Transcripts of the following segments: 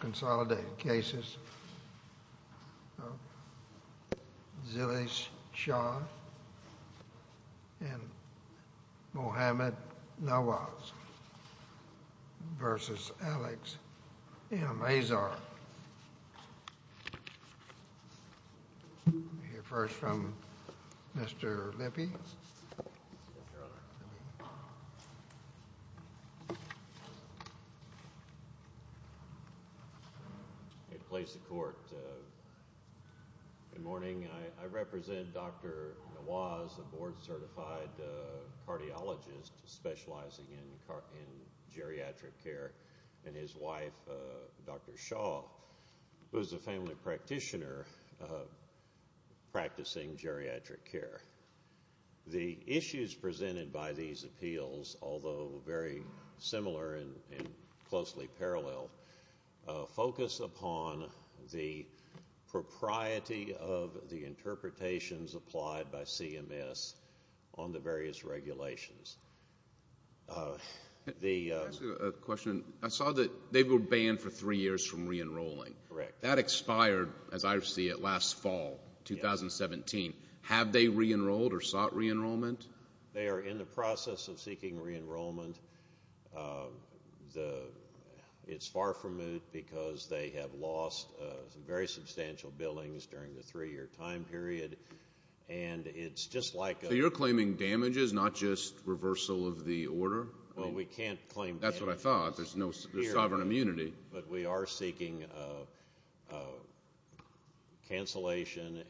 Consolidated Cases of Zille Shah and Mohamed Nawaz v. Alex M. Azar. Let me hear first from Mr. Lippe. It plays to court. Good morning. I represent Dr. Nawaz, a board-certified cardiologist specializing in geriatric care, and his wife, Dr. Shah, who is a family practitioner practicing geriatric care. The issues presented by these appeals, although very similar and closely parallel, focus upon the propriety of the interpretations applied by CMS on the various regulations. Can I ask you a question? I saw that they were banned for three years from re-enrolling. Correct. That expired, as I see it, last fall, 2017. Have they re-enrolled or sought re-enrollment? They are in the process of seeking re-enrollment. It's far from moot because they have lost very substantial billings during the three-year time period. So you're claiming damages, not just reversal of the order? Well, we can't claim damages. That's what I thought. There's no sovereign immunity. But we are seeking cancellation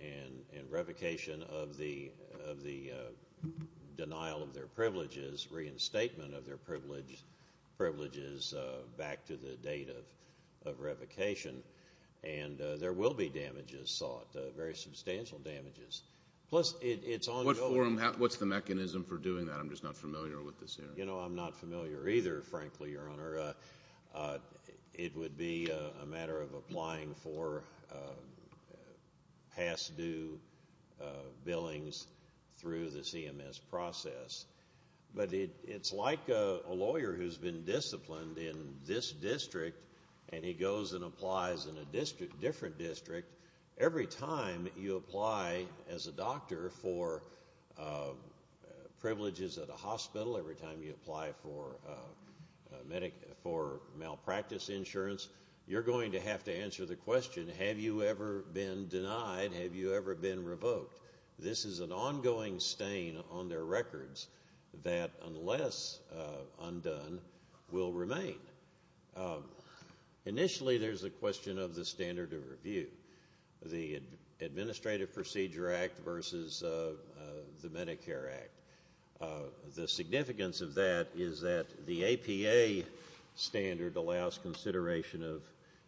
and revocation of the denial of their privileges, reinstatement of their privileges back to the date of revocation. And there will be damages sought, very substantial damages. What's the mechanism for doing that? I'm just not familiar with this area. I'm not familiar either, frankly, Your Honor. It would be a matter of applying for past due billings through the CMS process. But it's like a lawyer who's been disciplined in this district, and he goes and applies in a different district. Every time you apply as a doctor for privileges at a hospital, every time you apply for malpractice insurance, you're going to have to answer the question, have you ever been denied, have you ever been revoked? This is an ongoing stain on their records that, unless undone, will remain. Initially, there's a question of the standard of review, the Administrative Procedure Act versus the Medicare Act. The significance of that is that the APA standard allows consideration of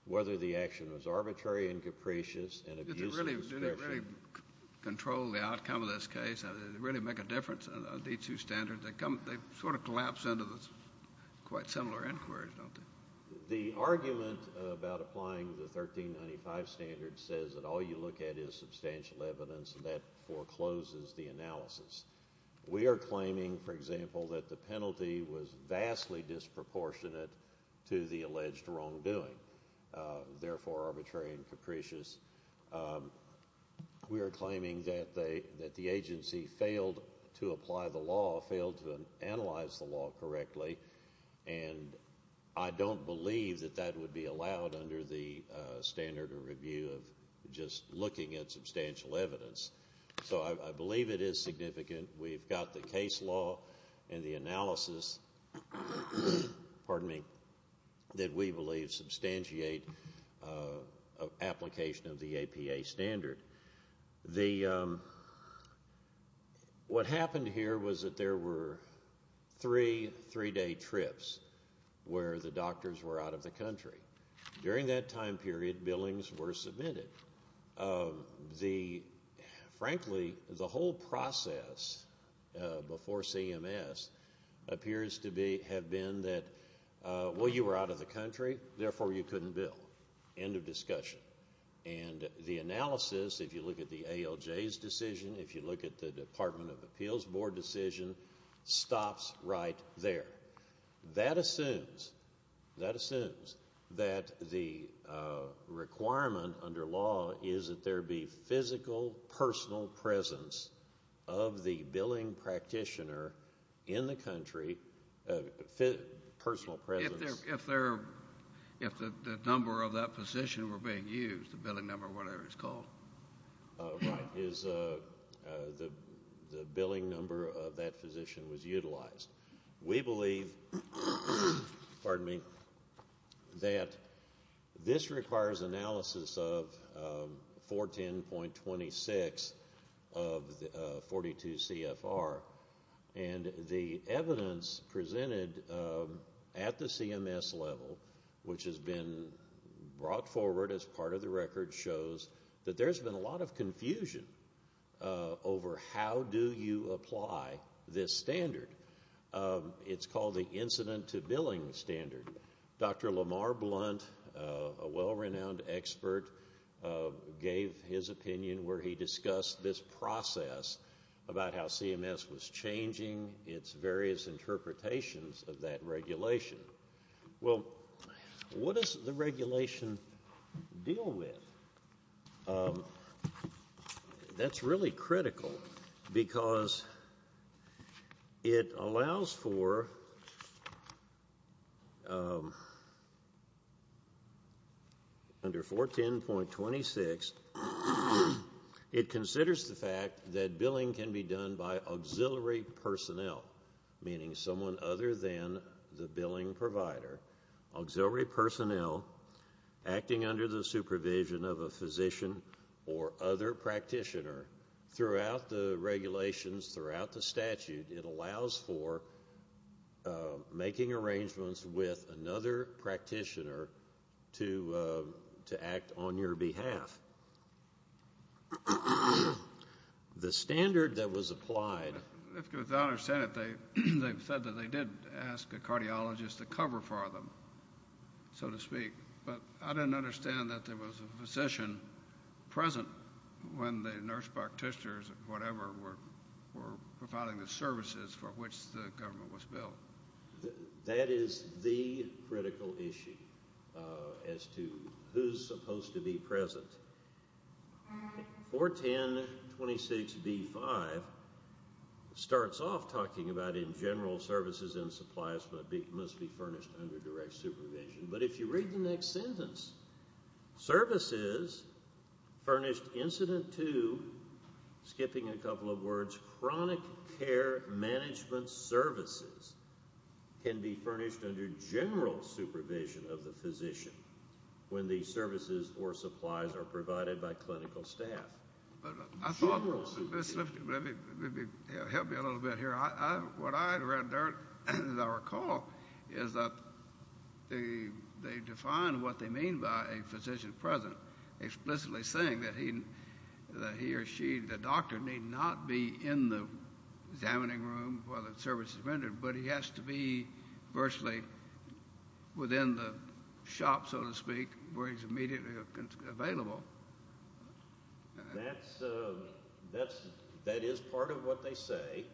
whether the action was arbitrary and capricious and abusive. Did they really control the outcome of this case? Did it really make a difference, these two standards? They sort of collapse into quite similar inquiries, don't they? The argument about applying the 1395 standard says that all you look at is substantial evidence, and that forecloses the analysis. We are claiming, for example, that the penalty was vastly disproportionate to the alleged wrongdoing, therefore arbitrary and capricious. We are claiming that the agency failed to apply the law, failed to analyze the law correctly, and I don't believe that that would be allowed under the standard of review of just looking at substantial evidence. So I believe it is significant. We've got the case law and the analysis that we believe substantiate application of the APA standard. What happened here was that there were three three-day trips where the doctors were out of the country. During that time period, billings were submitted. Frankly, the whole process before CMS appears to have been that, well, you were out of the country, therefore you couldn't bill. End of discussion. And the analysis, if you look at the ALJ's decision, if you look at the Department of Appeals Board decision, stops right there. That assumes that the requirement under law is that there be physical, personal presence of the billing practitioner in the country. Personal presence. If the number of that physician were being used, the billing number or whatever it's called. Right. The billing number of that physician was utilized. We believe that this requires analysis of 410.26 of 42 CFR, and the evidence presented at the CMS level, which has been brought forward as part of the record, shows that there's been a lot of confusion over how do you apply this standard. It's called the incident to billing standard. Dr. Lamar Blunt, a well-renowned expert, gave his opinion where he discussed this process about how CMS was changing its various interpretations of that regulation. Well, what does the regulation deal with? That's really critical because it allows for under 410.26, it considers the fact that billing can be done by auxiliary personnel, meaning someone other than the billing provider, auxiliary personnel acting under the supervision of a physician or other practitioner throughout the regulations, throughout the statute. It allows for making arrangements with another practitioner to act on your behalf. The standard that was applied... If you don't understand it, they said that they did ask a cardiologist to cover for them, so to speak, but I didn't understand that there was a physician present when the nurse practitioners or whatever were providing the services for which the government was billed. That is the critical issue as to who's supposed to be present. 410.26b-5 starts off talking about in general services and supplies must be furnished under direct supervision, but if you read the next sentence, services furnished incident to, skipping a couple of words, chronic care management services can be furnished under general supervision of the physician when the services or supplies are provided by clinical staff. General supervision. Help me a little bit here. What I read there, as I recall, is that they define what they mean by a physician present, explicitly saying that he or she, the doctor, need not be in the examining room while the service is rendered, but he has to be virtually within the shop, so to speak, where he's immediately available. That is part of what they say.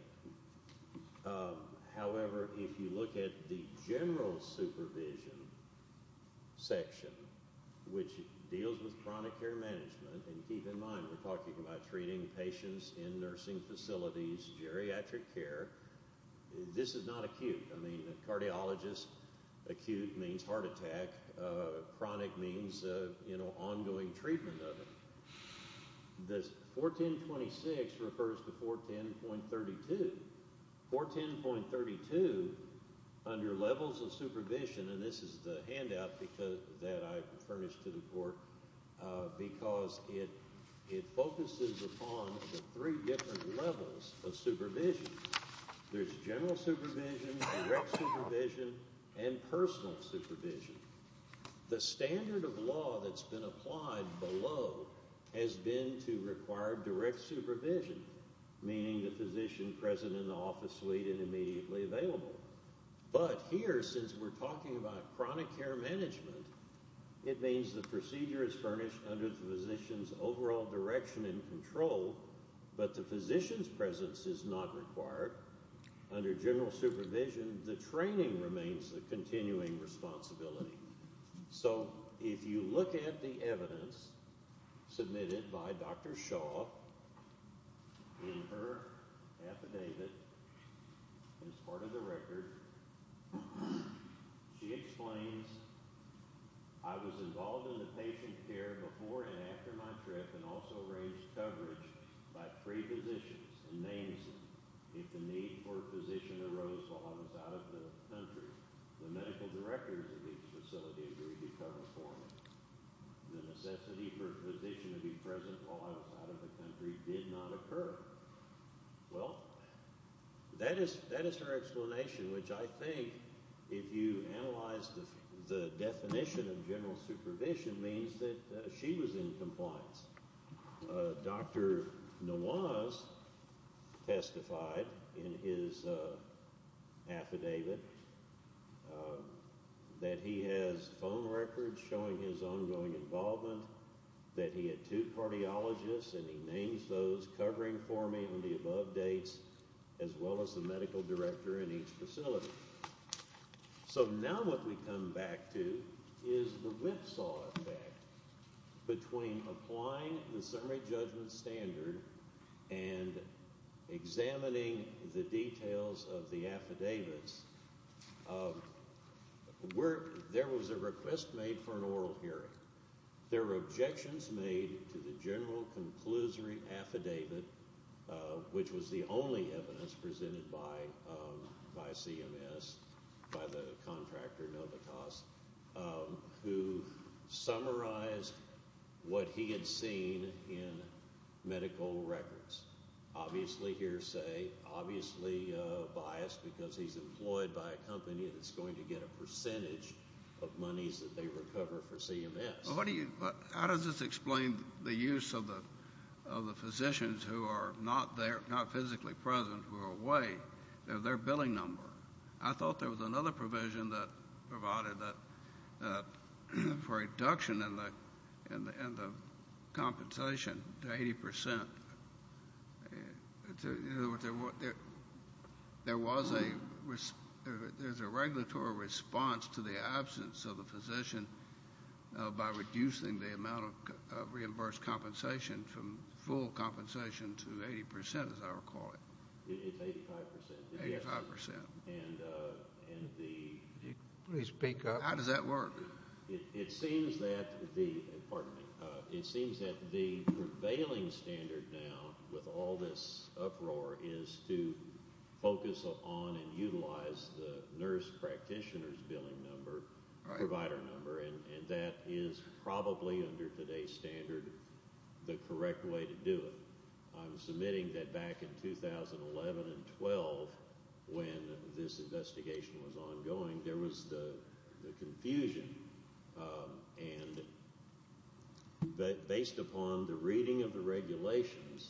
However, if you look at the general supervision section, which deals with chronic care management, and keep in mind we're talking about treating patients in nursing facilities, geriatric care. This is not acute. I mean a cardiologist, acute means heart attack. Chronic means ongoing treatment of it. This 410.26 refers to 410.32. 410.32 under levels of supervision, and this is the handout that I furnished to the court, because it focuses upon the three different levels of supervision. There's general supervision, direct supervision, and personal supervision. The standard of law that's been applied below has been to require direct supervision, meaning the physician present in the office suite and immediately available. But here, since we're talking about chronic care management, it means the procedure is furnished under the physician's overall direction and control, but the physician's presence is not required. However, under general supervision, the training remains the continuing responsibility. So if you look at the evidence submitted by Dr. Shaw in her affidavit as part of the record, she explains, I was involved in the patient care before and after my trip and also arranged coverage by three physicians, and names them. If the need for a physician arose while I was out of the country, the medical directors of each facility agreed to cover for me. The necessity for a physician to be present while I was out of the country did not occur. Well, that is her explanation, which I think, if you analyze the definition of general supervision, means that she was in compliance. Dr. Nawaz testified in his affidavit that he has phone records showing his ongoing involvement, that he had two cardiologists, and he names those covering for me on the above dates, as well as the medical director in each facility. So now what we come back to is the whipsaw effect between applying the summary judgment standard and examining the details of the affidavits. There was a request made for an oral hearing. There were objections made to the general conclusory affidavit, which was the only evidence presented by CMS, by the contractor Novitas, who summarized what he had seen in medical records. Obviously hearsay, obviously biased because he's employed by a company that's going to get a percentage of monies that they recover for CMS. How does this explain the use of the physicians who are not physically present, who are away? They're their billing number. I thought there was another provision that provided for a reduction in the compensation to 80%. There was a regulatory response to the absence of a physician by reducing the amount of reimbursed compensation from full compensation to 80%, as I recall it. It's 85%. 85%. And the ‑‑ Please speak up. How does that work? It seems that the prevailing standard now, with all this uproar, is to focus on and utilize the nurse practitioner's billing number, provider number, and that is probably, under today's standard, the correct way to do it. I'm submitting that back in 2011 and 2012, when this investigation was ongoing, there was the confusion. And based upon the reading of the regulations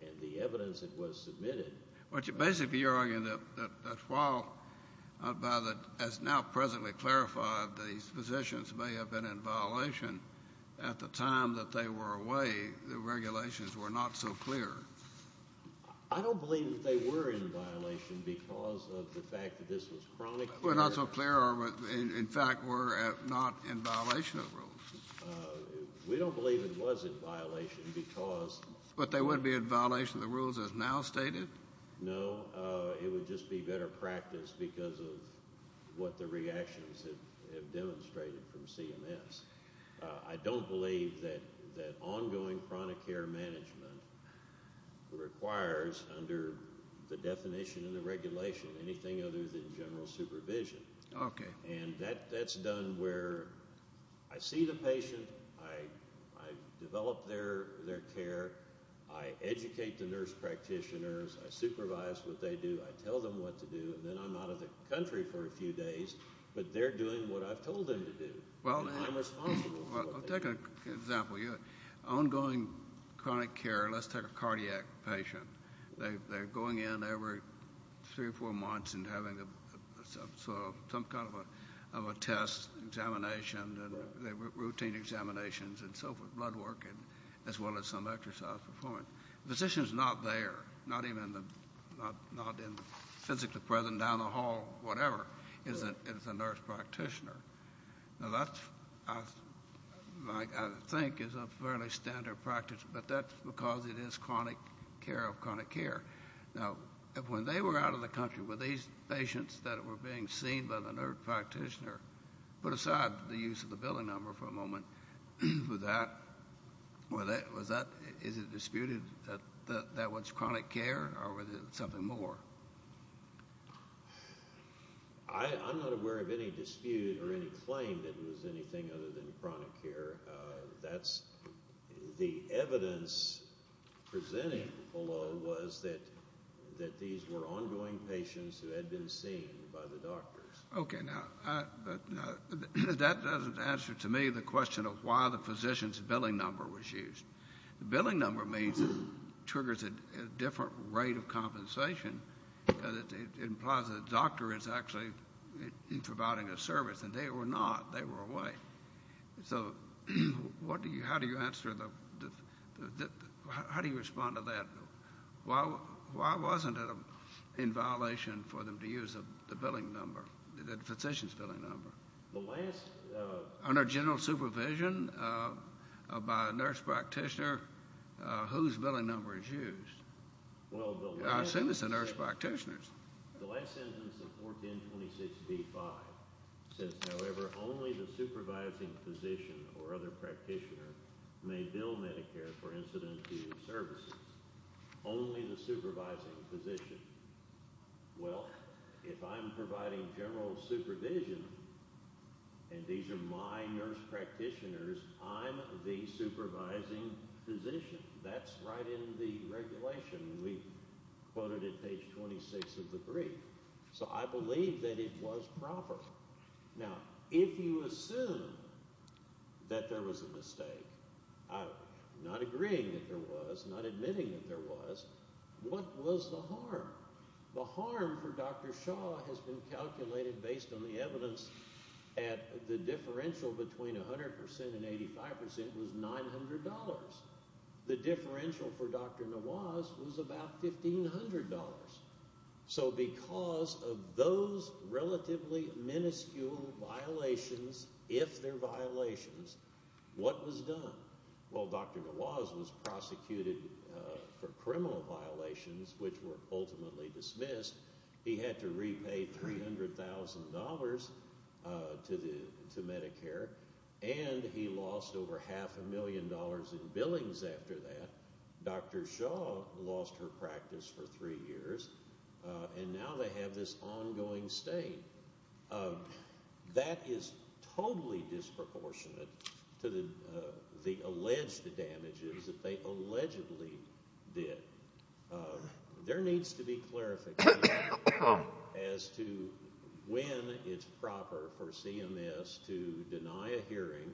and the evidence that was submitted ‑‑ But basically you're arguing that while, as now presently clarified, these physicians may have been in violation at the time that they were away, the regulations were not so clear. I don't believe that they were in violation because of the fact that this was chronic care. Were not so clear or, in fact, were not in violation of the rules. We don't believe it was in violation because ‑‑ But they would be in violation of the rules as now stated? No. It would just be better practice because of what the reactions have demonstrated from CMS. I don't believe that ongoing chronic care management requires, under the definition and the regulation, anything other than general supervision. Okay. And that's done where I see the patient, I develop their care, I educate the nurse practitioners, I supervise what they do, I tell them what to do, and then I'm out of the country for a few days, but they're doing what I've told them to do. I'll take an example. Ongoing chronic care, let's take a cardiac patient. They're going in every three or four months and having some kind of a test, examination, routine examinations, and so forth, blood work, as well as some exercise performance. The physician is not there, not even physically present, down the hall, whatever, is the nurse practitioner. Now, that, I think, is a fairly standard practice, but that's because it is chronic care of chronic care. Now, when they were out of the country, were these patients that were being seen by the nurse practitioner, put aside the use of the billing number for a moment, was that, is it disputed that that was chronic care, or was it something more? I'm not aware of any dispute or any claim that it was anything other than chronic care. The evidence presenting below was that these were ongoing patients who had been seen by the doctors. Okay, now, that doesn't answer to me the question of why the physician's billing number was used. The billing number means it triggers a different rate of compensation, because it implies that the doctor is actually providing a service, and they were not. They were away. So how do you respond to that? Why wasn't it in violation for them to use the billing number, the physician's billing number? Under general supervision by a nurse practitioner, whose billing number is used? I assume it's the nurse practitioner's. The last sentence of 1426B-5 says, however, only the supervising physician or other practitioner may bill Medicare for incident-free services. Only the supervising physician. Well, if I'm providing general supervision, and these are my nurse practitioners, I'm the supervising physician. That's right in the regulation. We quoted it, page 26 of the brief. So I believe that it was proper. Now, if you assume that there was a mistake, I'm not agreeing that there was, not admitting that there was, what was the harm? The harm for Dr. Shaw has been calculated based on the evidence that the differential between 100% and 85% was $900. The differential for Dr. Nawaz was about $1,500. So because of those relatively minuscule violations, if they're violations, what was done? Well, Dr. Nawaz was prosecuted for criminal violations, which were ultimately dismissed. He had to repay $300,000 to Medicare, and he lost over half a million dollars in billings after that. Dr. Shaw lost her practice for three years, and now they have this ongoing state. That is totally disproportionate to the alleged damages that they allegedly did. There needs to be clarification as to when it's proper for CMS to deny a hearing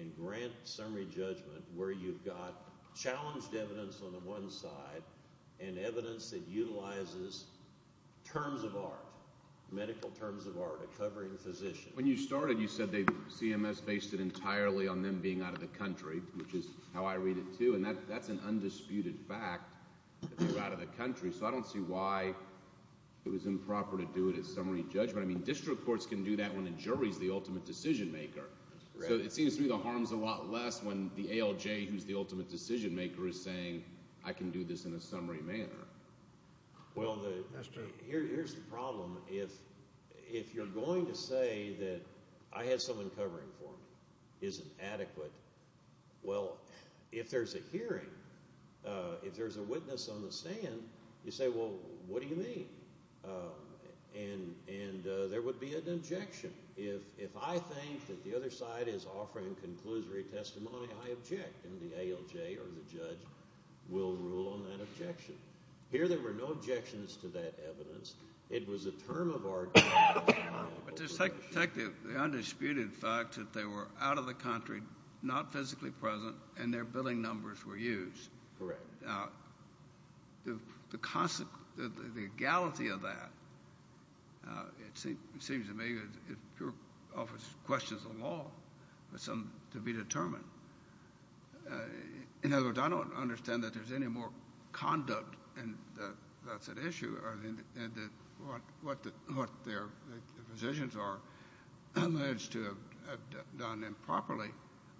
and grant summary judgment where you've got challenged evidence on the one side and evidence that utilizes terms of art, medical terms of art, a covering physician. When you started, you said CMS based it entirely on them being out of the country, which is how I read it too, and that's an undisputed fact that they're out of the country. So I don't see why it was improper to do it as summary judgment. District courts can do that when the jury's the ultimate decision maker. So it seems to me the harm's a lot less when the ALJ, who's the ultimate decision maker, is saying I can do this in a summary manner. Well, here's the problem. If you're going to say that I had someone covering for me isn't adequate, well, if there's a hearing, if there's a witness on the stand, you say, well, what do you mean? And there would be an objection. If I think that the other side is offering conclusory testimony, I object, and the ALJ or the judge will rule on that objection. Here there were no objections to that evidence. It was a term of art. But to take the undisputed fact that they were out of the country, not physically present, and their billing numbers were used. Correct. The constant, the legality of that, it seems to me, it offers questions of law for some to be determined. In other words, I don't understand that there's any more conduct, and that's an issue, or what their positions are, as to have done improperly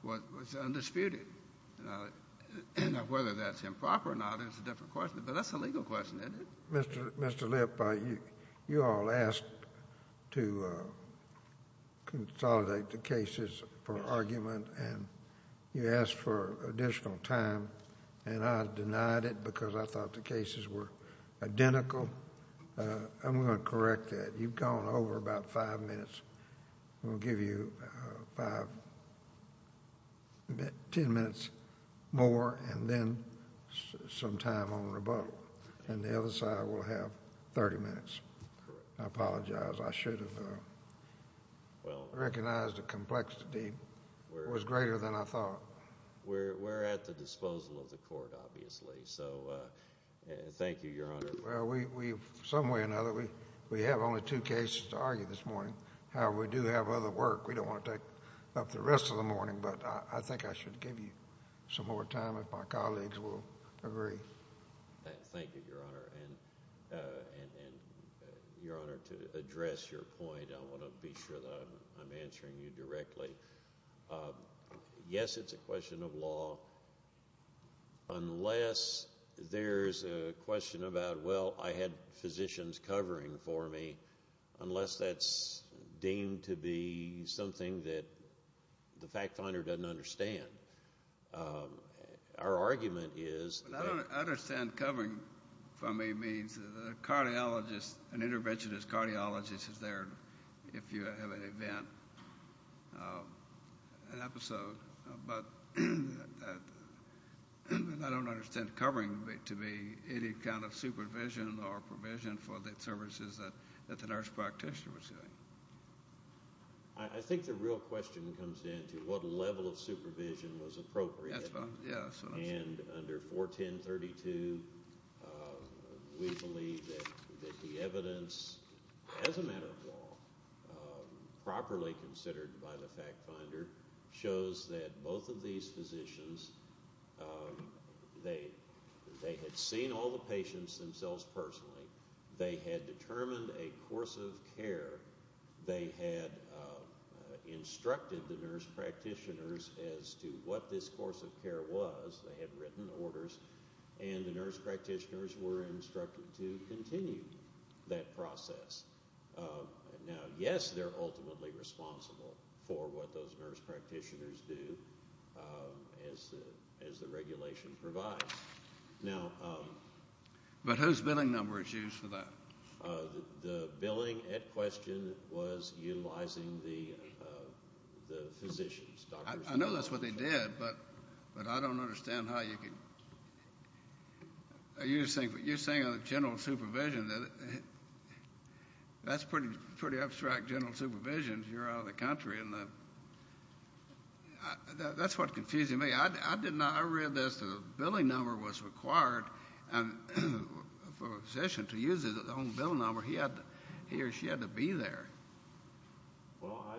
what was undisputed, and whether that's improper or not is a different question, but that's a legal question, isn't it? Mr. Lipp, you all asked to consolidate the cases for argument, and you asked for additional time, and I denied it because I thought the cases were identical. I'm going to correct that. You've gone over about five minutes. We'll give you five, ten minutes more, and then some time on rebuttal, and the other side will have 30 minutes. I apologize. I should have recognized the complexity. It was greater than I thought. We're at the disposal of the court, obviously, so thank you, Your Honor. Well, some way or another, we have only two cases to argue this morning. However, we do have other work. We don't want to take up the rest of the morning, but I think I should give you some more time if my colleagues will agree. Thank you, Your Honor, and, Your Honor, to address your point, I want to be sure that I'm answering you directly. Yes, it's a question of law. Unless there's a question about, well, I had physicians covering for me, unless that's deemed to be something that the fact finder doesn't understand. Our argument is that- I don't understand covering for me means that a cardiologist, an interventionist cardiologist is there if you have an event, an episode, but I don't understand covering to be any kind of supervision or provision for the services that the nurse practitioner was doing. I think the real question comes down to what level of supervision was appropriate, and under 410.32, we believe that the evidence, as a matter of law, properly considered by the fact finder shows that both of these physicians, they had seen all the patients themselves personally. They had determined a course of care. They had instructed the nurse practitioners as to what this course of care was. They had written orders, and the nurse practitioners were instructed to continue that process. Now, yes, they're ultimately responsible for what those nurse practitioners do, as the regulation provides. But whose billing number is used for that? The billing at question was utilizing the physicians. I know that's what they did, but I don't understand how you could- You're saying general supervision. That's pretty abstract, general supervision if you're out of the country. That's what's confusing me. I read this, the billing number was required for a physician to use his own billing number. He or she had to be there. Well, I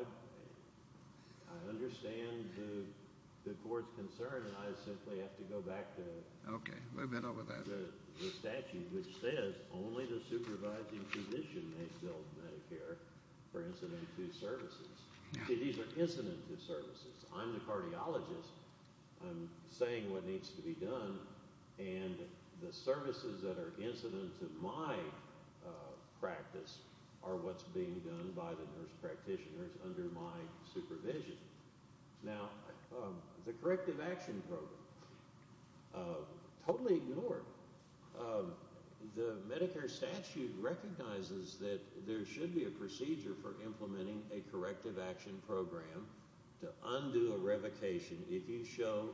understand the court's concern, and I simply have to go back to- Okay, we've been over that. The statute which says only the supervising physician may bill Medicare for incident to services. These are incident to services. I'm the cardiologist. I'm saying what needs to be done, and the services that are incident to my practice are what's being done by the nurse practitioners under my supervision. Now, the corrective action program. Totally ignored. The Medicare statute recognizes that there should be a procedure for implementing a corrective action program to undo a revocation if you show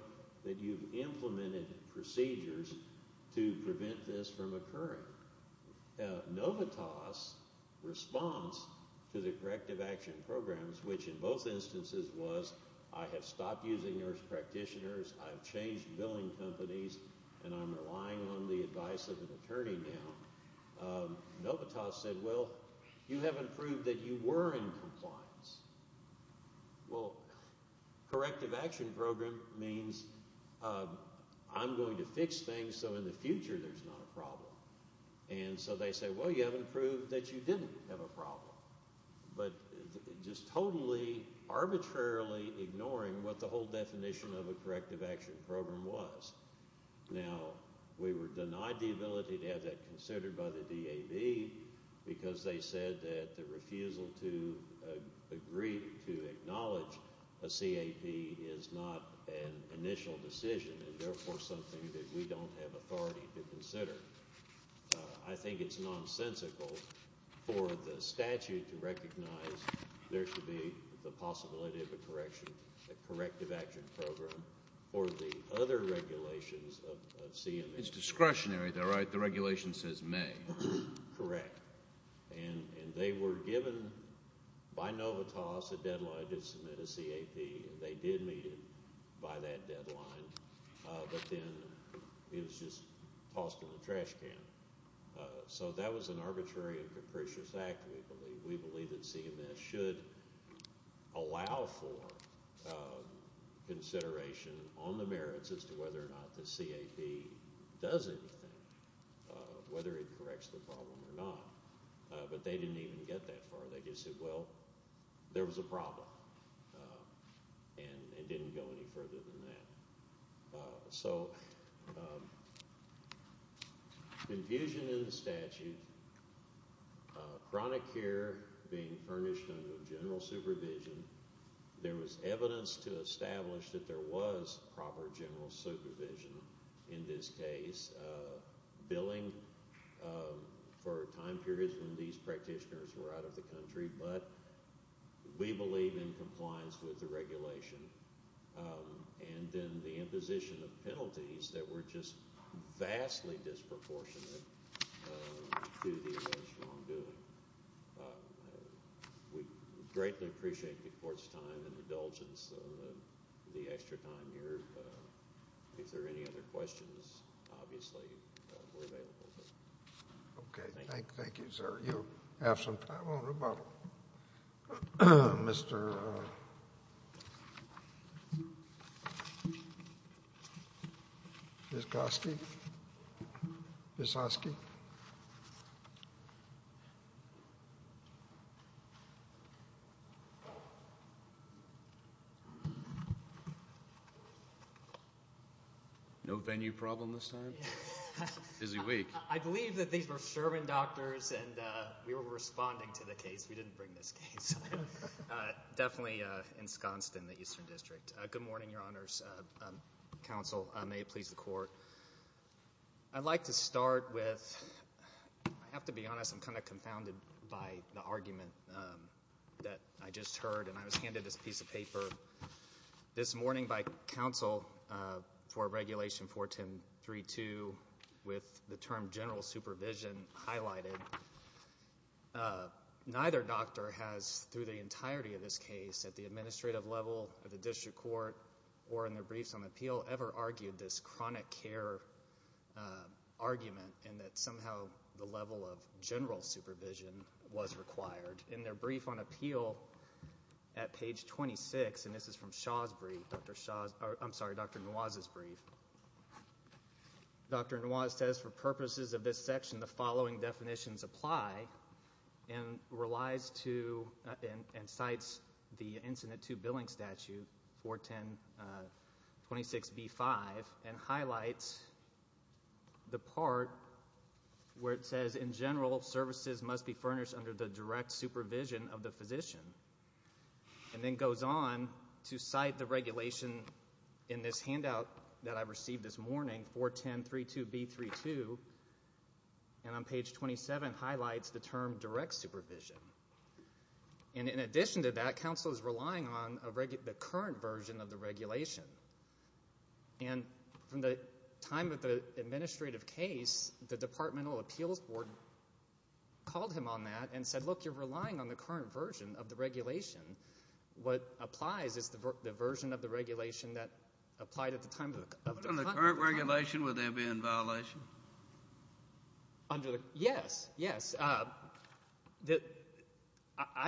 that you've implemented procedures to prevent this from occurring. Novitas' response to the corrective action programs, which in both instances was I have stopped using nurse practitioners, I've changed billing companies, and I'm relying on the advice of an attorney now. Novitas said, well, you haven't proved that you were in compliance. Well, corrective action program means I'm going to fix things so in the future there's not a problem. And so they say, well, you haven't proved that you didn't have a problem. But just totally arbitrarily ignoring what the whole definition of a corrective action program was. Now, we were denied the ability to have that considered by the DAB because they said that the refusal to agree to acknowledge a CAP is not an initial decision and therefore something that we don't have authority to consider. I think it's nonsensical for the statute to recognize there should be the possibility of a correction, a corrective action program for the other regulations of CMS. It's discretionary, though, right? The regulation says may. Correct. And they were given by Novitas a deadline to submit a CAP, and they did meet it by that deadline. But then it was just tossed in the trash can. So that was an arbitrary and capricious act, we believe. We believe that CMS should allow for consideration on the merits as to whether or not the CAP does anything, whether it corrects the problem or not. But they didn't even get that far. They just said, well, there was a problem, and it didn't go any further than that. So confusion in the statute, chronic care being furnished under general supervision, there was evidence to establish that there was proper general supervision in this case, billing for time periods when these practitioners were out of the country, but we believe in compliance with the regulation, and then the imposition of penalties that were just vastly disproportionate to the alleged wrongdoing. We greatly appreciate the Court's time and indulgence of the extra time here. If there are any other questions, obviously, we're available. Thank you. Thank you, sir. You have some time on rebuttal. Mr. Vysotsky? Mr. Vysotsky? No venue problem this time? Busy week. I believe that these were Sherman doctors, and we were responding to the case. We didn't bring this case. Definitely ensconced in the Eastern District. Good morning, Your Honors. Counsel, may it please the Court. I'd like to start with, I have to be honest, I'm kind of confounded by the argument that I just heard, and I was handed this piece of paper this morning by counsel for Regulation 41032 with the term general supervision highlighted. Neither doctor has, through the entirety of this case, at the administrative level, at the district court, or in their briefs on appeal, ever argued this chronic care argument and that somehow the level of general supervision was required. In their brief on appeal at page 26, and this is from Dr. Noir's brief, Dr. Noir says, for purposes of this section, the following definitions apply and relies to and cites the Incident 2 Billing Statute, 41026B5, and highlights the part where it says, in general, services must be furnished under the direct supervision of the physician, and then goes on to cite the regulation in this handout that I received this morning, 41032B32, and on page 27 highlights the term direct supervision. And in addition to that, counsel is relying on the current version of the regulation. And from the time of the administrative case, the Departmental Appeals Board called him on that and said, look, you're relying on the current version of the regulation. What applies is the version of the regulation that applied at the time of the conduct. Under the current regulation, would there be a violation? Yes, yes. I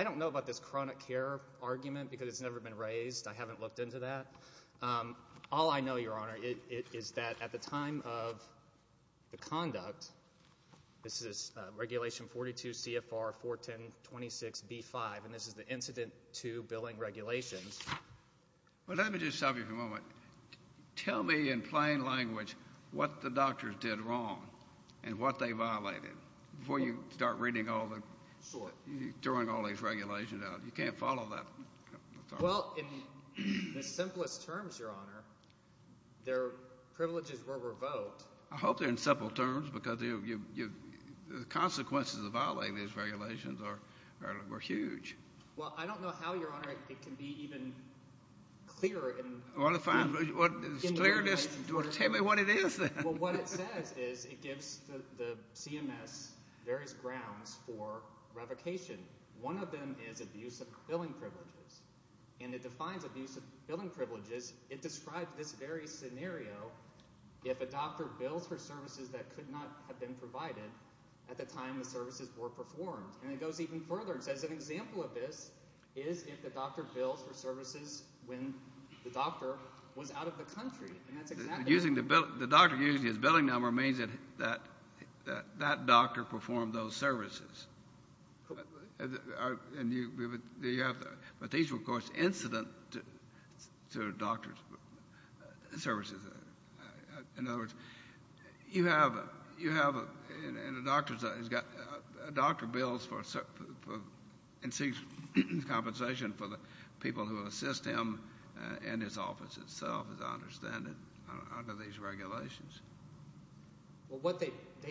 don't know about this chronic care argument because it's never been raised. I haven't looked into that. All I know, Your Honor, is that at the time of the conduct, this is Regulation 42 CFR 41026B5, and this is the incident to billing regulations. Well, let me just stop you for a moment. Tell me in plain language what the doctors did wrong and what they violated before you start reading all the, throwing all these regulations out. You can't follow that. Well, in the simplest terms, Your Honor, their privileges were revoked. I hope they're in simple terms because the consequences of violating these regulations were huge. Well, I don't know how, Your Honor, it can be even clearer. Do you want to tell me what it is then? Well, what it says is it gives the CMS various grounds for revocation. One of them is abuse of billing privileges, and it defines abuse of billing privileges. It describes this very scenario if a doctor bills for services that could not have been provided at the time the services were performed. And it goes even further. It says an example of this is if the doctor bills for services when the doctor was out of the country, and that's exactly it. The doctor using his billing number means that that doctor performed those services. But these were, of course, incident to doctors' services. In other words, you have a doctor bills for compensation for the people who assist him and his office itself, as I understand it, under these regulations. Well, they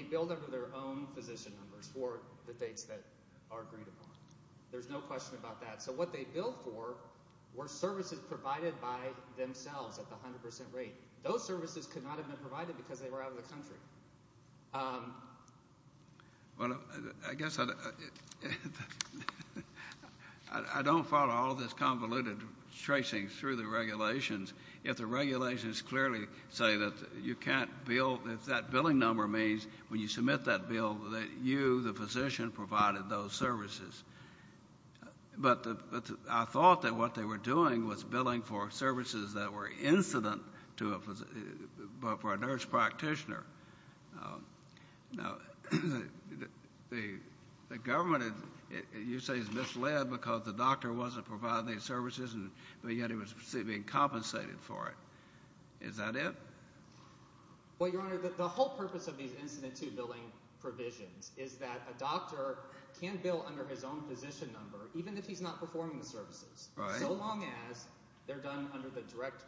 billed under their own physician numbers for the dates that are agreed upon. There's no question about that. So what they billed for were services provided by themselves at the 100% rate. Those services could not have been provided because they were out of the country. Well, I guess I don't follow all of this convoluted tracing through the regulations. If the regulations clearly say that you can't bill, if that billing number means when you submit that bill that you, the physician, provided those services. But I thought that what they were doing was billing for services that were incident to a nurse practitioner. Now, the government, you say, is misled because the doctor wasn't providing any services, and yet he was being compensated for it. Is that it? Well, Your Honor, the whole purpose of these incident to billing provisions is that a doctor can bill under his own physician number even if he's not performing the services. Right. So long as they're done under the direct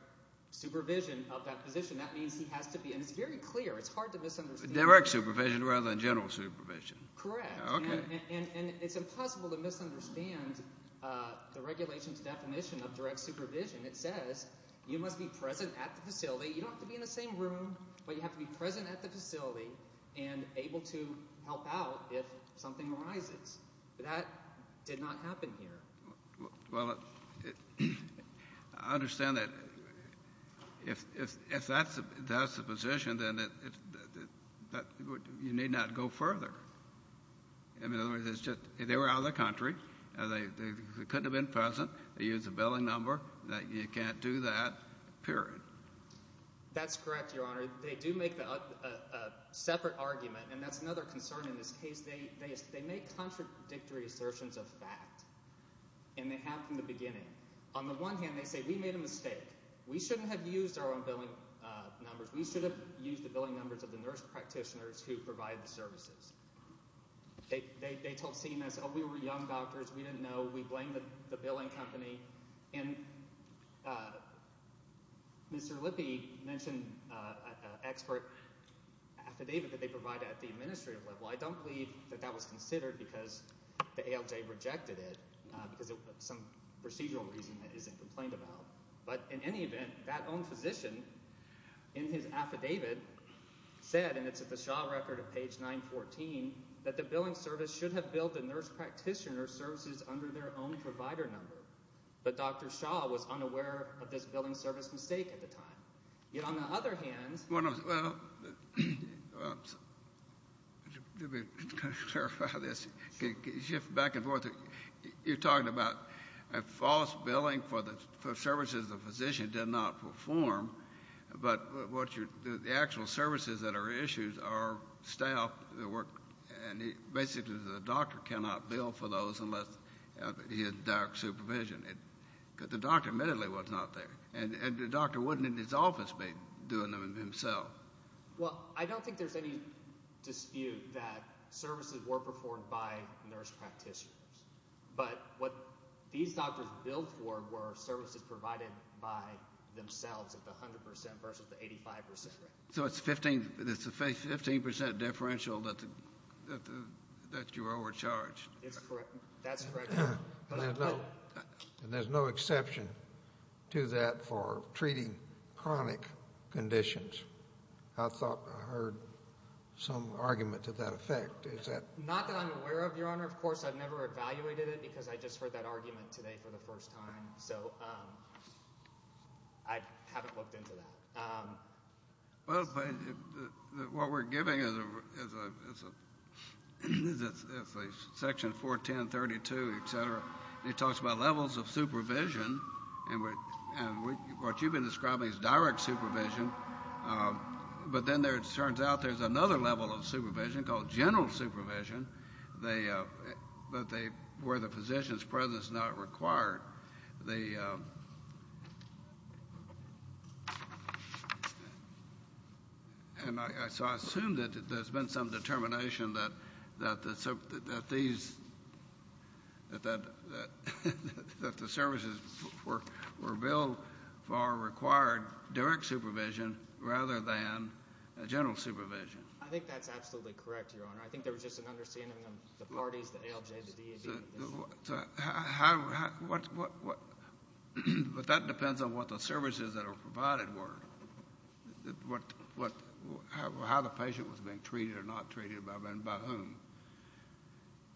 supervision of that physician. That means he has to be, and it's very clear, it's hard to misunderstand. Direct supervision rather than general supervision. Correct. Okay. And it's impossible to misunderstand the regulations definition of direct supervision. It says you must be present at the facility. You don't have to be in the same room, but you have to be present at the facility and able to help out if something arises. That did not happen here. Well, I understand that if that's the position, then you need not go further. In other words, they were out of the country. They couldn't have been present. They used a billing number. You can't do that, period. That's correct, Your Honor. They do make a separate argument, and that's another concern in this case. They make contradictory assertions of fact, and they have from the beginning. On the one hand, they say we made a mistake. We shouldn't have used our own billing numbers. We should have used the billing numbers of the nurse practitioners who provide the services. They told CMS, oh, we were young doctors. We didn't know. We blame the billing company. And Mr. Lippe mentioned an expert affidavit that they provide at the administrative level. I don't believe that that was considered because the ALJ rejected it because of some procedural reason that isn't complained about. But in any event, that own physician in his affidavit said, and it's at the Shaw record of page 914, that the billing service should have billed the nurse practitioner services under their own provider number. But Dr. Shaw was unaware of this billing service mistake at the time. On the other hand. Well, let me clarify this. Shift back and forth. You're talking about a false billing for services the physician did not perform, but the actual services that are issued are staff that work. And basically the doctor cannot bill for those unless he has direct supervision. The doctor admittedly was not there. And the doctor wouldn't in his office be doing them himself. Well, I don't think there's any dispute that services were performed by nurse practitioners. But what these doctors billed for were services provided by themselves at the 100% versus the 85% rate. So it's a 15% differential that you were overcharged. That's correct. And there's no exception to that for treating chronic conditions. I thought I heard some argument to that effect. Not that I'm aware of, Your Honor. Of course, I've never evaluated it because I just heard that argument today for the first time. So I haven't looked into that. Well, what we're giving is a section 41032, et cetera, and it talks about levels of supervision. And what you've been describing is direct supervision. But then it turns out there's another level of supervision called general supervision where the physician's presence is not required. And so I assume that there's been some determination that the services were billed for required direct supervision rather than general supervision. I think that's absolutely correct, Your Honor. I think there was just an understanding of the parties, the ALJ, the DAB. But that depends on what the services that are provided were, how the patient was being treated or not treated and by whom.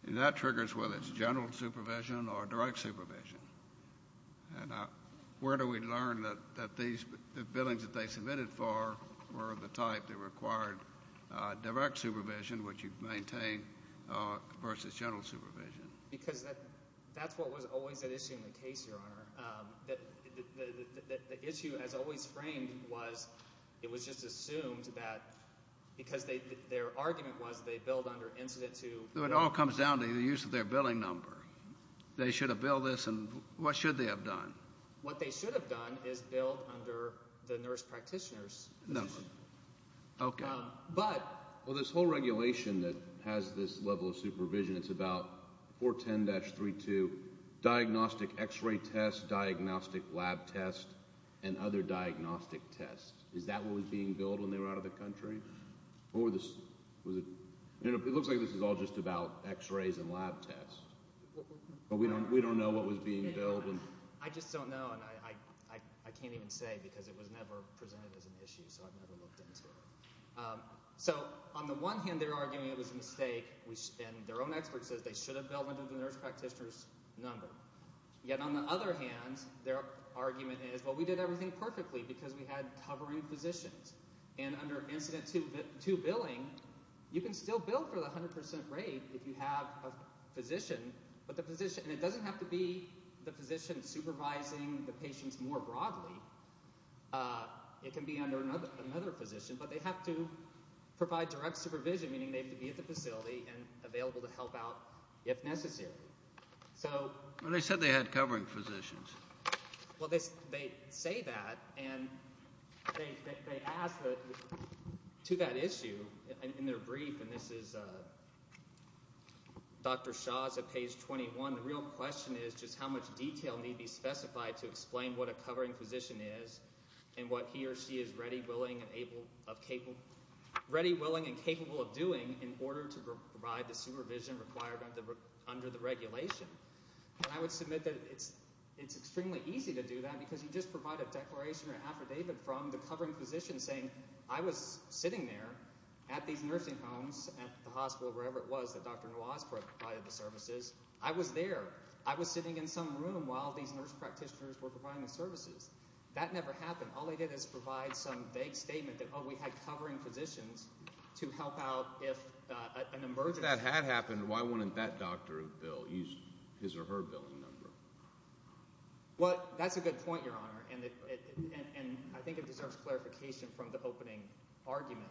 And that triggers whether it's general supervision or direct supervision. And where do we learn that the billings that they submitted for were of the type that required direct supervision, which you've maintained, versus general supervision? Because that's what was always at issue in the case, Your Honor. The issue, as always framed, was it was just assumed that because their argument was they billed under incident to— It all comes down to the use of their billing number. They should have billed this, and what should they have done? What they should have done is billed under the nurse practitioner's number. Okay. But— Well, this whole regulation that has this level of supervision, it's about 410-32, diagnostic X-ray test, diagnostic lab test, and other diagnostic tests. Is that what was being billed when they were out of the country? Or was it—it looks like this is all just about X-rays and lab tests. We don't know what was being billed. I just don't know, and I can't even say because it was never presented as an issue, so I've never looked into it. So on the one hand, they're arguing it was a mistake, and their own expert says they should have billed under the nurse practitioner's number. Yet on the other hand, their argument is, well, we did everything perfectly because we had covering physicians. And under Incident 2 billing, you can still bill for the 100% rate if you have a physician. But the physician—and it doesn't have to be the physician supervising the patients more broadly. It can be under another physician, but they have to provide direct supervision, meaning they have to be at the facility and available to help out if necessary. So— Well, they said they had covering physicians. Well, they say that, and they ask to that issue in their brief, and this is Dr. Shah's at page 21. The real question is just how much detail need be specified to explain what a covering physician is and what he or she is ready, willing, and able—ready, willing, and capable of doing in order to provide the supervision required under the regulation. And I would submit that it's extremely easy to do that because you just provide a declaration or an affidavit from the covering physician saying, I was sitting there at these nursing homes, at the hospital, wherever it was that Dr. Nawaz provided the services. I was there. I was sitting in some room while these nurse practitioners were providing the services. That never happened. All they did is provide some vague statement that, oh, we had covering physicians to help out if an emergency— Why wouldn't that doctor bill his or her billing number? Well, that's a good point, Your Honor, and I think it deserves clarification from the opening argument.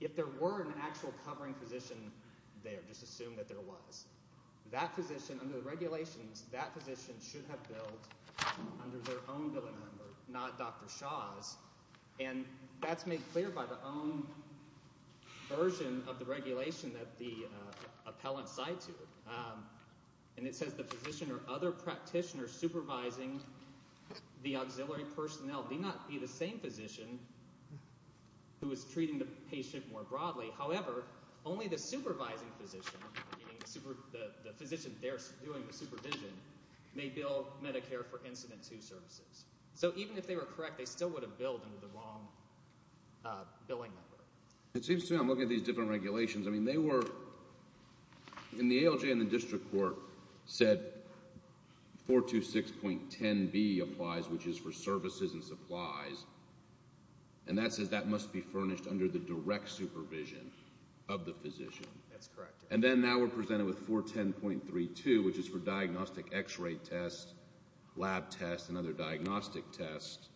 If there were an actual covering physician there, just assume that there was, that physician under the regulations, that physician should have billed under their own billing number, not Dr. Shah's. And that's made clear by the own version of the regulation that the appellant cites here. And it says the physician or other practitioner supervising the auxiliary personnel need not be the same physician who is treating the patient more broadly. However, only the supervising physician, meaning the physician there doing the supervision, may bill Medicare for Incident 2 services. So even if they were correct, they still would have billed under the wrong billing number. It seems to me I'm looking at these different regulations. I mean, they were—in the ALJ and the district court said 426.10b applies, which is for services and supplies, and that says that must be furnished under the direct supervision of the physician. That's correct. And then now we're presented with 410.32, which is for diagnostic X-ray tests, lab tests, and other diagnostic tests.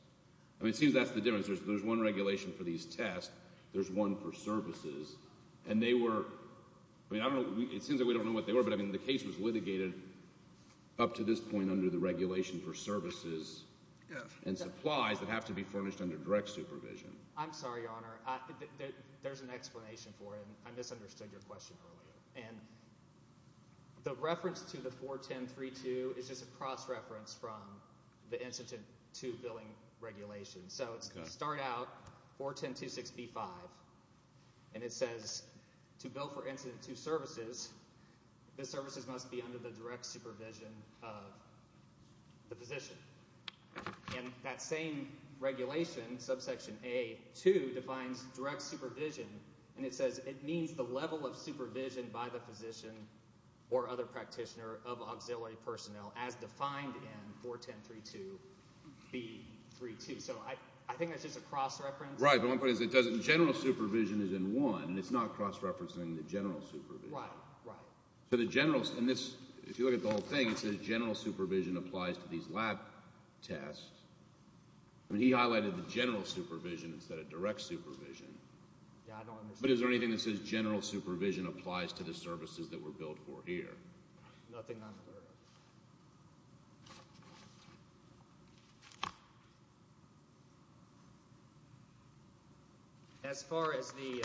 I mean, it seems that's the difference. There's one regulation for these tests. There's one for services. And they were—I mean, I don't know. It seems like we don't know what they were, but, I mean, the case was litigated up to this point under the regulation for services and supplies that have to be furnished under direct supervision. I'm sorry, Your Honor. There's an explanation for it, and I misunderstood your question earlier. And the reference to the 410.32 is just a cross-reference from the Incident 2 billing regulation. So it's start out 410.26b-5, and it says to bill for Incident 2 services, the services must be under the direct supervision of the physician. And that same regulation, subsection A-2, defines direct supervision, and it says it means the level of supervision by the physician or other practitioner of auxiliary personnel as defined in 410.32b-3-2. So I think that's just a cross-reference. Right, but one point is it doesn't—general supervision is in 1. It's not cross-referencing the general supervision. Right, right. So the general—and this, if you look at the whole thing, it says general supervision applies to these lab tests. I mean, he highlighted the general supervision instead of direct supervision. Yeah, I don't understand. But is there anything that says general supervision applies to the services that were billed for here? Nothing on the order. As far as the—well,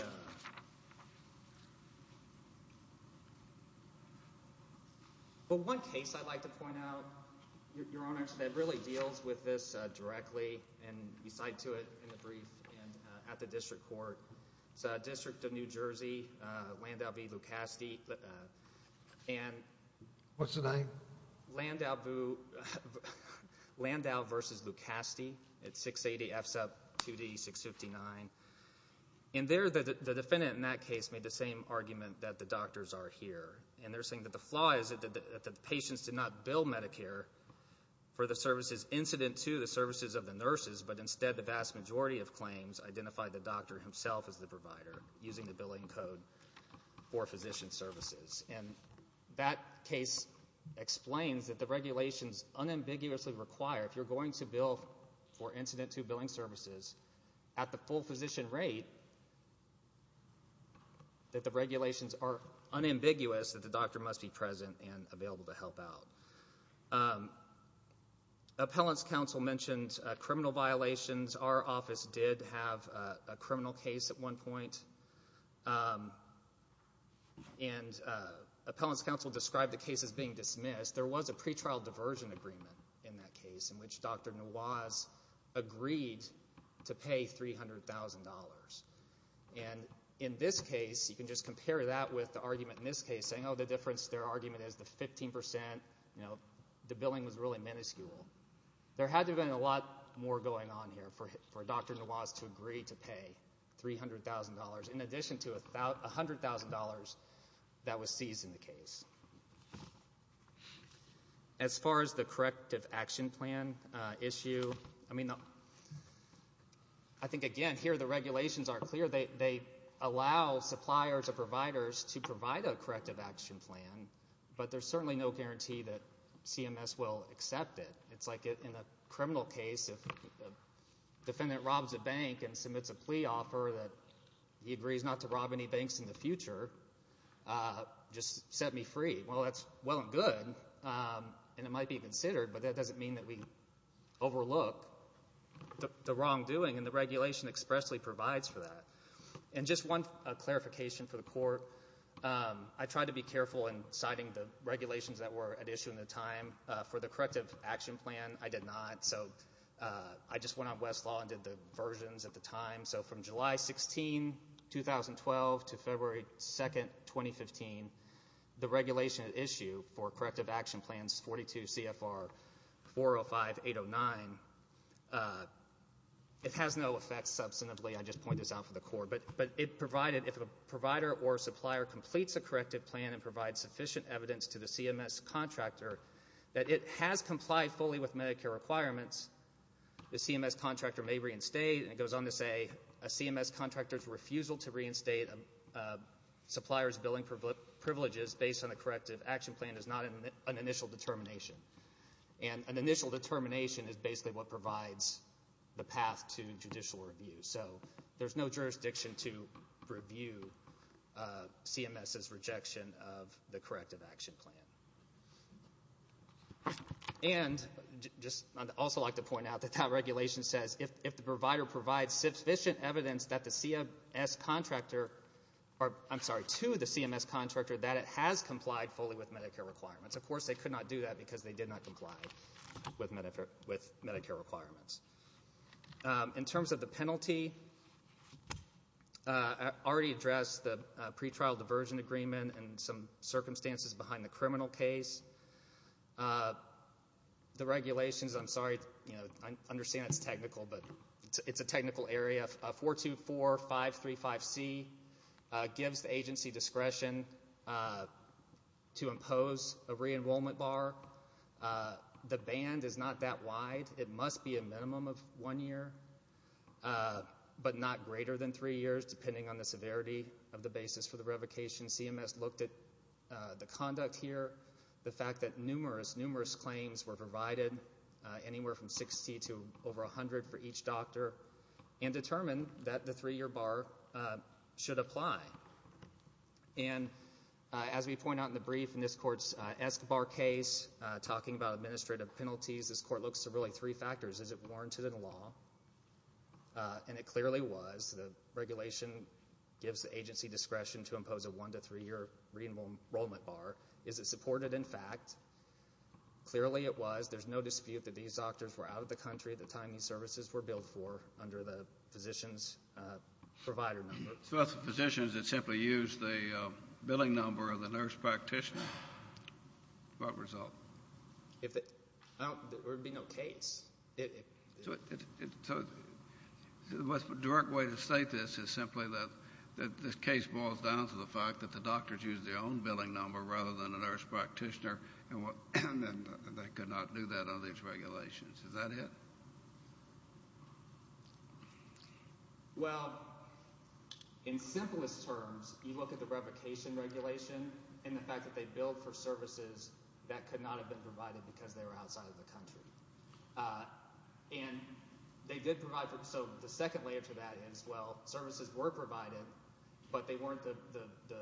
one case I'd like to point out, Your Honors, that really deals with this directly, and we cite to it in the brief at the district court. It's a district of New Jersey, Landau v. Lucastie, and— What's the name? Landau v. Lucastie. It's 680F2D659. And there, the defendant in that case made the same argument that the doctors are here, and they're saying that the flaw is that the patients did not bill Medicare for the services incident to the services of the nurses, but instead the vast majority of claims identified the doctor himself as the provider using the billing code for physician services. And that case explains that the regulations unambiguously require, if you're going to bill for incident to billing services at the full physician rate, that the regulations are unambiguous that the doctor must be present and available to help out. Appellant's counsel mentioned criminal violations. Our office did have a criminal case at one point, and appellant's counsel described the case as being dismissed. There was a pretrial diversion agreement in that case in which Dr. Nawaz agreed to pay $300,000. And in this case, you can just compare that with the argument in this case saying, oh, the difference, their argument is the 15%, you know, the billing was really minuscule. There had to have been a lot more going on here for Dr. Nawaz to agree to pay $300,000, in addition to $100,000 that was seized in the case. As far as the corrective action plan issue, I mean, I think, again, here the regulations aren't clear. They allow suppliers or providers to provide a corrective action plan, but there's certainly no guarantee that CMS will accept it. It's like in a criminal case, if a defendant robs a bank and submits a plea offer that he agrees not to rob any banks in the future, just set me free. Well, that's well and good, and it might be considered, but that doesn't mean that we overlook the wrongdoing, and the regulation expressly provides for that. And just one clarification for the court. I tried to be careful in citing the regulations that were at issue at the time for the corrective action plan. I did not. So I just went on Westlaw and did the versions at the time. So from July 16, 2012 to February 2, 2015, the regulation at issue for corrective action plans 42 CFR 405-809, it has no effect substantively. I just point this out for the court. But if a provider or supplier completes a corrective plan and provides sufficient evidence to the CMS contractor that it has complied fully with Medicare requirements, the CMS contractor may reinstate, and it goes on to say, a CMS contractor's refusal to reinstate a supplier's billing privileges based on a corrective action plan is not an initial determination. And an initial determination is basically what provides the path to judicial review. So there's no jurisdiction to review CMS's rejection of the corrective action plan. And I'd also like to point out that that regulation says if the provider provides sufficient evidence to the CMS contractor that it has complied fully with Medicare requirements. Of course, they could not do that because they did not comply with Medicare requirements. In terms of the penalty, I already addressed the pretrial diversion agreement and some circumstances behind the criminal case. The regulations, I'm sorry, I understand it's technical, but it's a technical area. 424-535-C gives the agency discretion to impose a re-enrollment bar. The band is not that wide. It must be a minimum of one year, but not greater than three years, depending on the severity of the basis for the revocation. CMS looked at the conduct here, the fact that numerous, numerous claims were provided, anywhere from 60 to over 100 for each doctor, and determined that the three-year bar should apply. And as we point out in the brief in this court's ESCBAR case, talking about administrative penalties, this court looks at really three factors. Is it warranted in law? And it clearly was. The regulation gives the agency discretion to impose a one- to three-year re-enrollment bar. Is it supported in fact? Clearly it was. There's no dispute that these doctors were out of the country at the time these services were billed for under the physician's provider number. So that's the physicians that simply used the billing number of the nurse practitioner. What result? There would be no case. So the most direct way to state this is simply that this case boils down to the fact that the doctors used their own billing number rather than a nurse practitioner, and they could not do that under these regulations. Is that it? Well, in simplest terms, you look at the revocation regulation and the fact that they billed for services that could not have been provided because they were outside of the country. And they did provide for – so the second layer to that is, well, services were provided, but they weren't the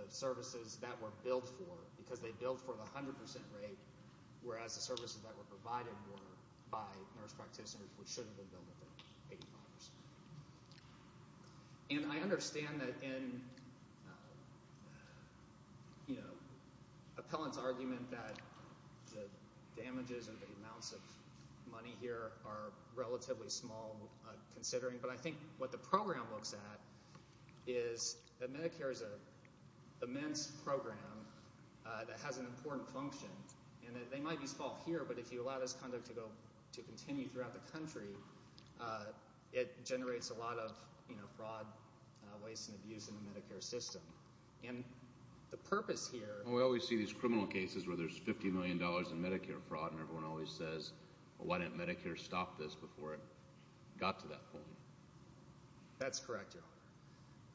services that were billed for because they billed for the 100 percent rate, whereas the services that were provided were by nurse practitioners, which should have been billed for 85 percent. And I understand that in Appellant's argument that the damages and the amounts of money here are relatively small considering, but I think what the program looks at is that Medicare is an immense program that has an important function. And they might be small here, but if you allow this conduct to continue throughout the country, it generates a lot of fraud, waste, and abuse in the Medicare system. And the purpose here – Well, we always see these criminal cases where there's $50 million in Medicare fraud, and everyone always says, well, why didn't Medicare stop this before it got to that point? That's correct, Your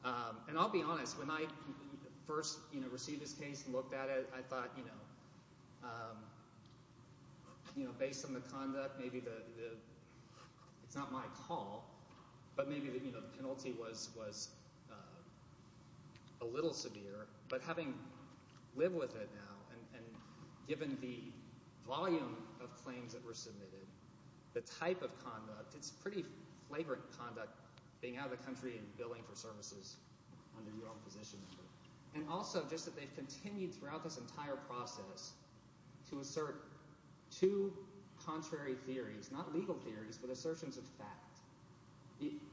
Honor. And I'll be honest, when I first received this case and looked at it, I thought, you know, based on the conduct, maybe it's not my call, but maybe the penalty was a little severe. But having lived with it now and given the volume of claims that were submitted, the type of conduct, it's pretty flagrant conduct being out of the country and billing for services under your own position. And also just that they've continued throughout this entire process to assert two contrary theories, not legal theories, but assertions of fact.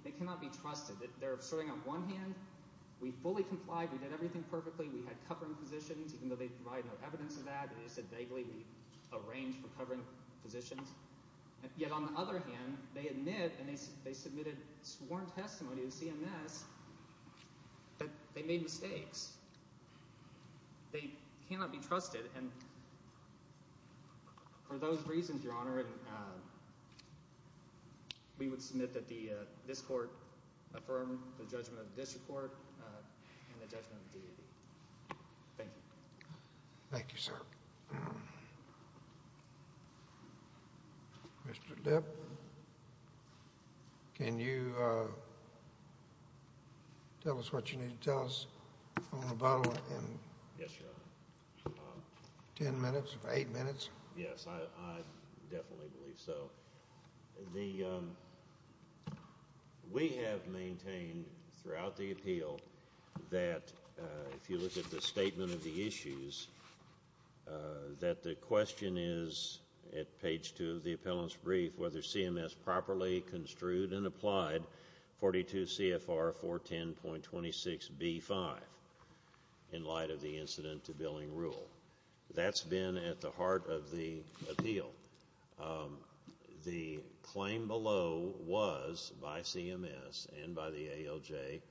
They cannot be trusted. They're asserting on one hand, we fully complied, we did everything perfectly, we had covering positions, even though they provide no evidence of that. They just said vaguely we arranged for covering positions. Yet on the other hand, they admit and they submitted sworn testimony to CMS that they made mistakes. They cannot be trusted. And for those reasons, Your Honor, we would submit that this court affirmed the judgment of this court and the judgment of the DAB. Thank you. Thank you, sir. Mr. Lipp, can you tell us what you need to tell us on the bottle in ten minutes, eight minutes? Yes, I definitely believe so. We have maintained throughout the appeal that if you look at the statement of the issues, that the question is at page two of the appellant's brief whether CMS properly construed and applied 42 CFR 410.26B5 in light of the incident to billing rule. That's been at the heart of the appeal. The claim below was by CMS and by the ALJ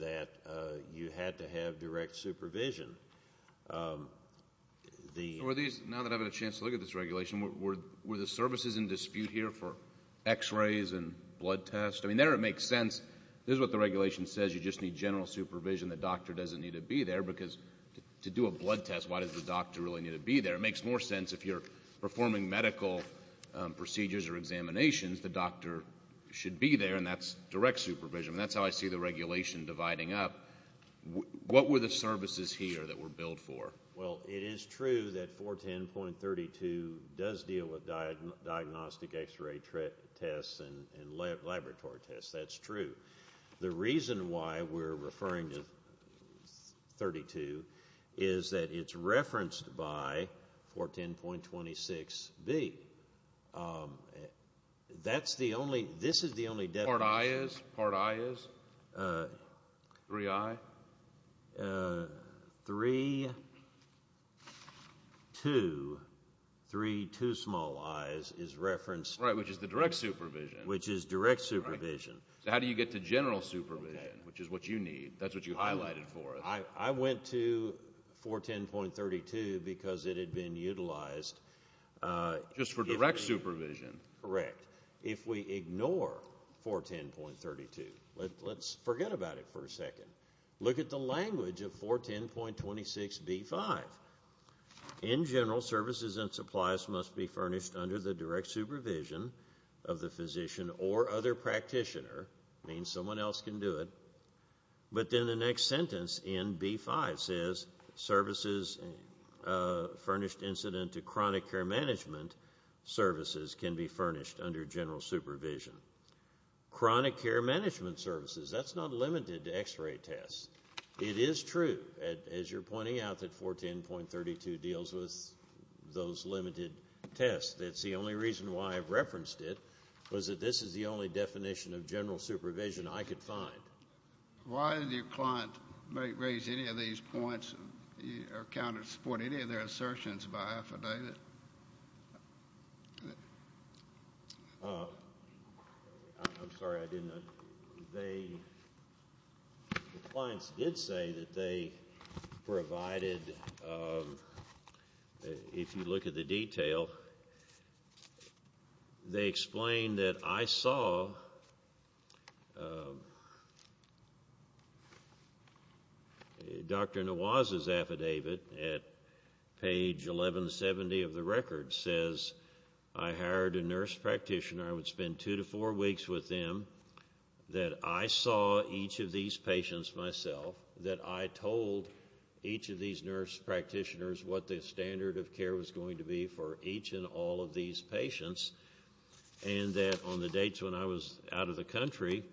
that you had to have direct supervision. Now that I've had a chance to look at this regulation, were the services in dispute here for x-rays and blood tests? I mean, there it makes sense. This is what the regulation says. You just need general supervision. The doctor doesn't need to be there because to do a blood test, why does the doctor really need to be there? It makes more sense if you're performing medical procedures or examinations, the doctor should be there, and that's direct supervision, and that's how I see the regulation dividing up. What were the services here that were billed for? Well, it is true that 410.32 does deal with diagnostic x-ray tests and laboratory tests. That's true. The reason why we're referring to 32 is that it's referenced by 410.26B. That's the only, this is the only definition. Part I is? Part I is? 3I? Three, two, three two small I's is referenced. Right, which is the direct supervision. Which is direct supervision. So how do you get to general supervision, which is what you need? That's what you highlighted for us. I went to 410.32 because it had been utilized. Just for direct supervision. Correct. If we ignore 410.32, let's forget about it for a second. Look at the language of 410.26B.5. In general, services and supplies must be furnished under the direct supervision of the physician or other practitioner. It means someone else can do it. But then the next sentence in B.5 says services furnished incident to chronic care management services can be furnished under general supervision. Chronic care management services, that's not limited to x-ray tests. It is true, as you're pointing out, that 410.32 deals with those limited tests. That's the only reason why I've referenced it, was that this is the only definition of general supervision I could find. Why did your client raise any of these points or support any of their assertions by affidavit? I'm sorry, I didn't know. The clients did say that they provided, if you look at the detail, they explained that I saw Dr. Nawaz's affidavit at page 1170 of the record. It says I hired a nurse practitioner. I would spend two to four weeks with them, that I saw each of these patients myself, that I told each of these nurse practitioners what the standard of care was going to be for each and all of these patients, and that on the dates when I was out of the country,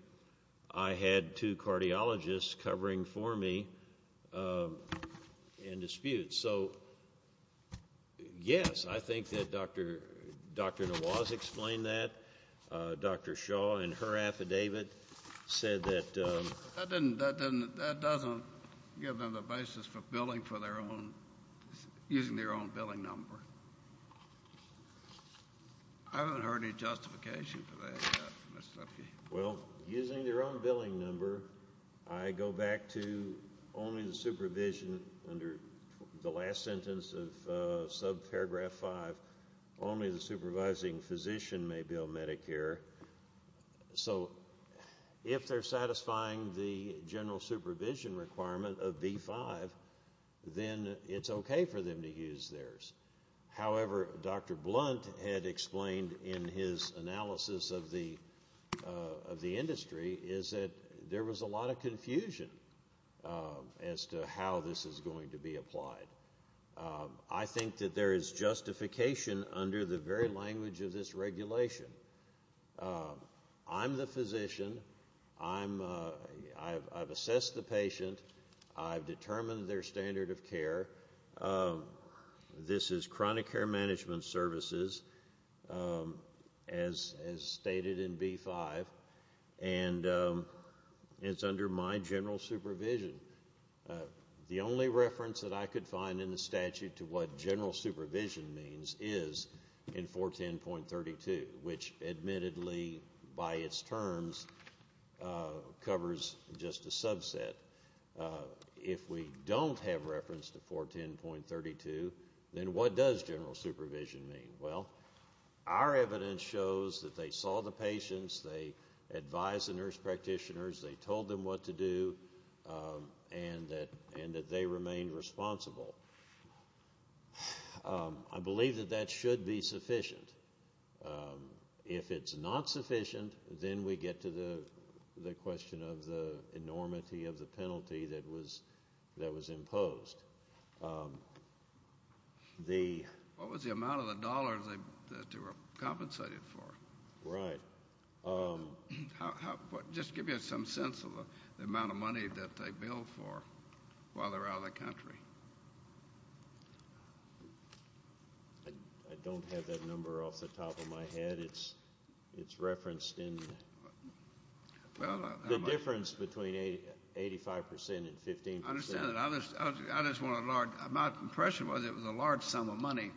I had two cardiologists covering for me in dispute. So, yes, I think that Dr. Nawaz explained that. Dr. Shaw, in her affidavit, said that. That doesn't give them the basis for billing for their own, using their own billing number. I haven't heard any justification for that. Well, using their own billing number, I go back to only the supervision, under the last sentence of subparagraph 5, only the supervising physician may bill Medicare. So if they're satisfying the general supervision requirement of B-5, then it's okay for them to use theirs. However, Dr. Blunt had explained in his analysis of the industry, is that there was a lot of confusion as to how this is going to be applied. I think that there is justification under the very language of this regulation. I'm the physician. I've assessed the patient. I've determined their standard of care. This is chronic care management services, as stated in B-5, and it's under my general supervision. The only reference that I could find in the statute to what general supervision means is in 410.32, which admittedly, by its terms, covers just a subset. If we don't have reference to 410.32, then what does general supervision mean? Well, our evidence shows that they saw the patients, they advised the nurse practitioners, they told them what to do, and that they remained responsible. I believe that that should be sufficient. If it's not sufficient, then we get to the question of the enormity of the penalty that was imposed. What was the amount of the dollars that they were compensated for? Right. Just give me some sense of the amount of money that they billed for while they were out of the country. I don't have that number off the top of my head. It's referenced in the difference between 85 percent and 15 percent. I understand that. My impression was it was a large sum of money.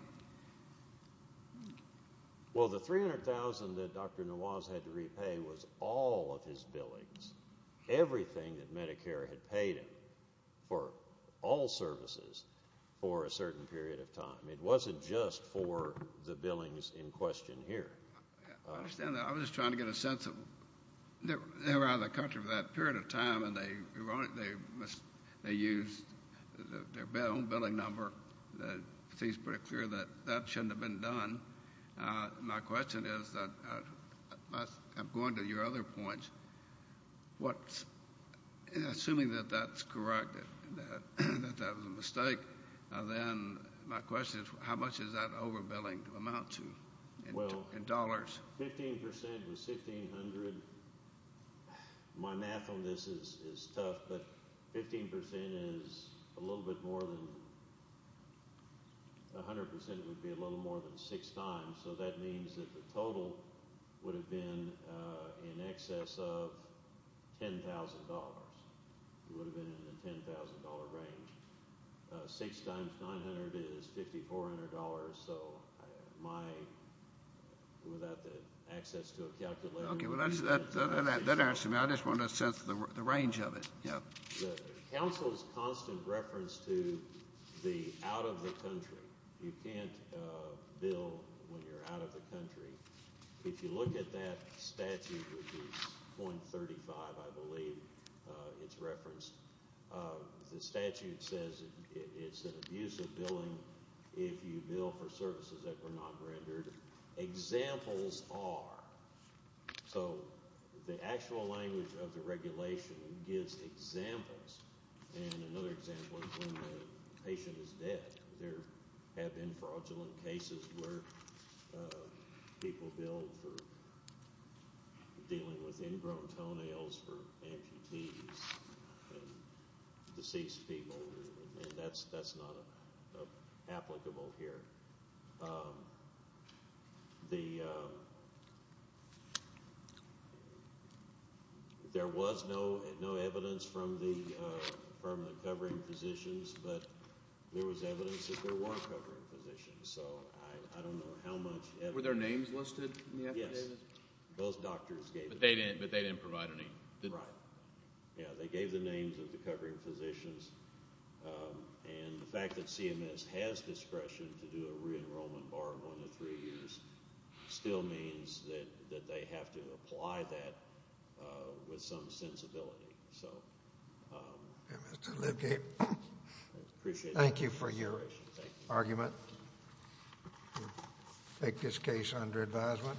Well, the $300,000 that Dr. Nawaz had to repay was all of his billings, everything that Medicare had paid him for all services for a certain period of time. It wasn't just for the billings in question here. I understand that. I was just trying to get a sense of they were out of the country for that period of time, and they used their own billing number. It seems pretty clear that that shouldn't have been done. My question is that I'm going to your other point. Assuming that that's correct, that that was a mistake, then my question is how much does that overbilling amount to in dollars? Well, 15 percent was $1,600. My math on this is tough, but 15 percent is a little bit more than – 100 percent would be a little more than six times, so that means that the total would have been in excess of $10,000. It would have been in the $10,000 range. Six times 900 is $5,400. So my – without the access to a calculator. Okay, well, that answers me. I just wanted a sense of the range of it. The council's constant reference to the out-of-the-country. You can't bill when you're out of the country. If you look at that statute, which is .35, I believe it's referenced, the statute says it's an abuse of billing if you bill for services that were not rendered. Examples are – so the actual language of the regulation gives examples, and another example is when the patient is dead. There have been fraudulent cases where people bill for dealing with ingrown toenails for amputees and deceased people, and that's not applicable here. The – there was no evidence from the covering physicians, but there was evidence that there were covering physicians. So I don't know how much evidence – Were their names listed in the affidavit? Yes. Both doctors gave it. But they didn't provide a name. Right. Yeah, they gave the names of the covering physicians, and the fact that CMS has discretion to do a re-enrollment bar of one to three years still means that they have to apply that with some sensibility. So – Okay, Mr. Libgate, thank you for your argument. Thank you. We'll take this case under advisement.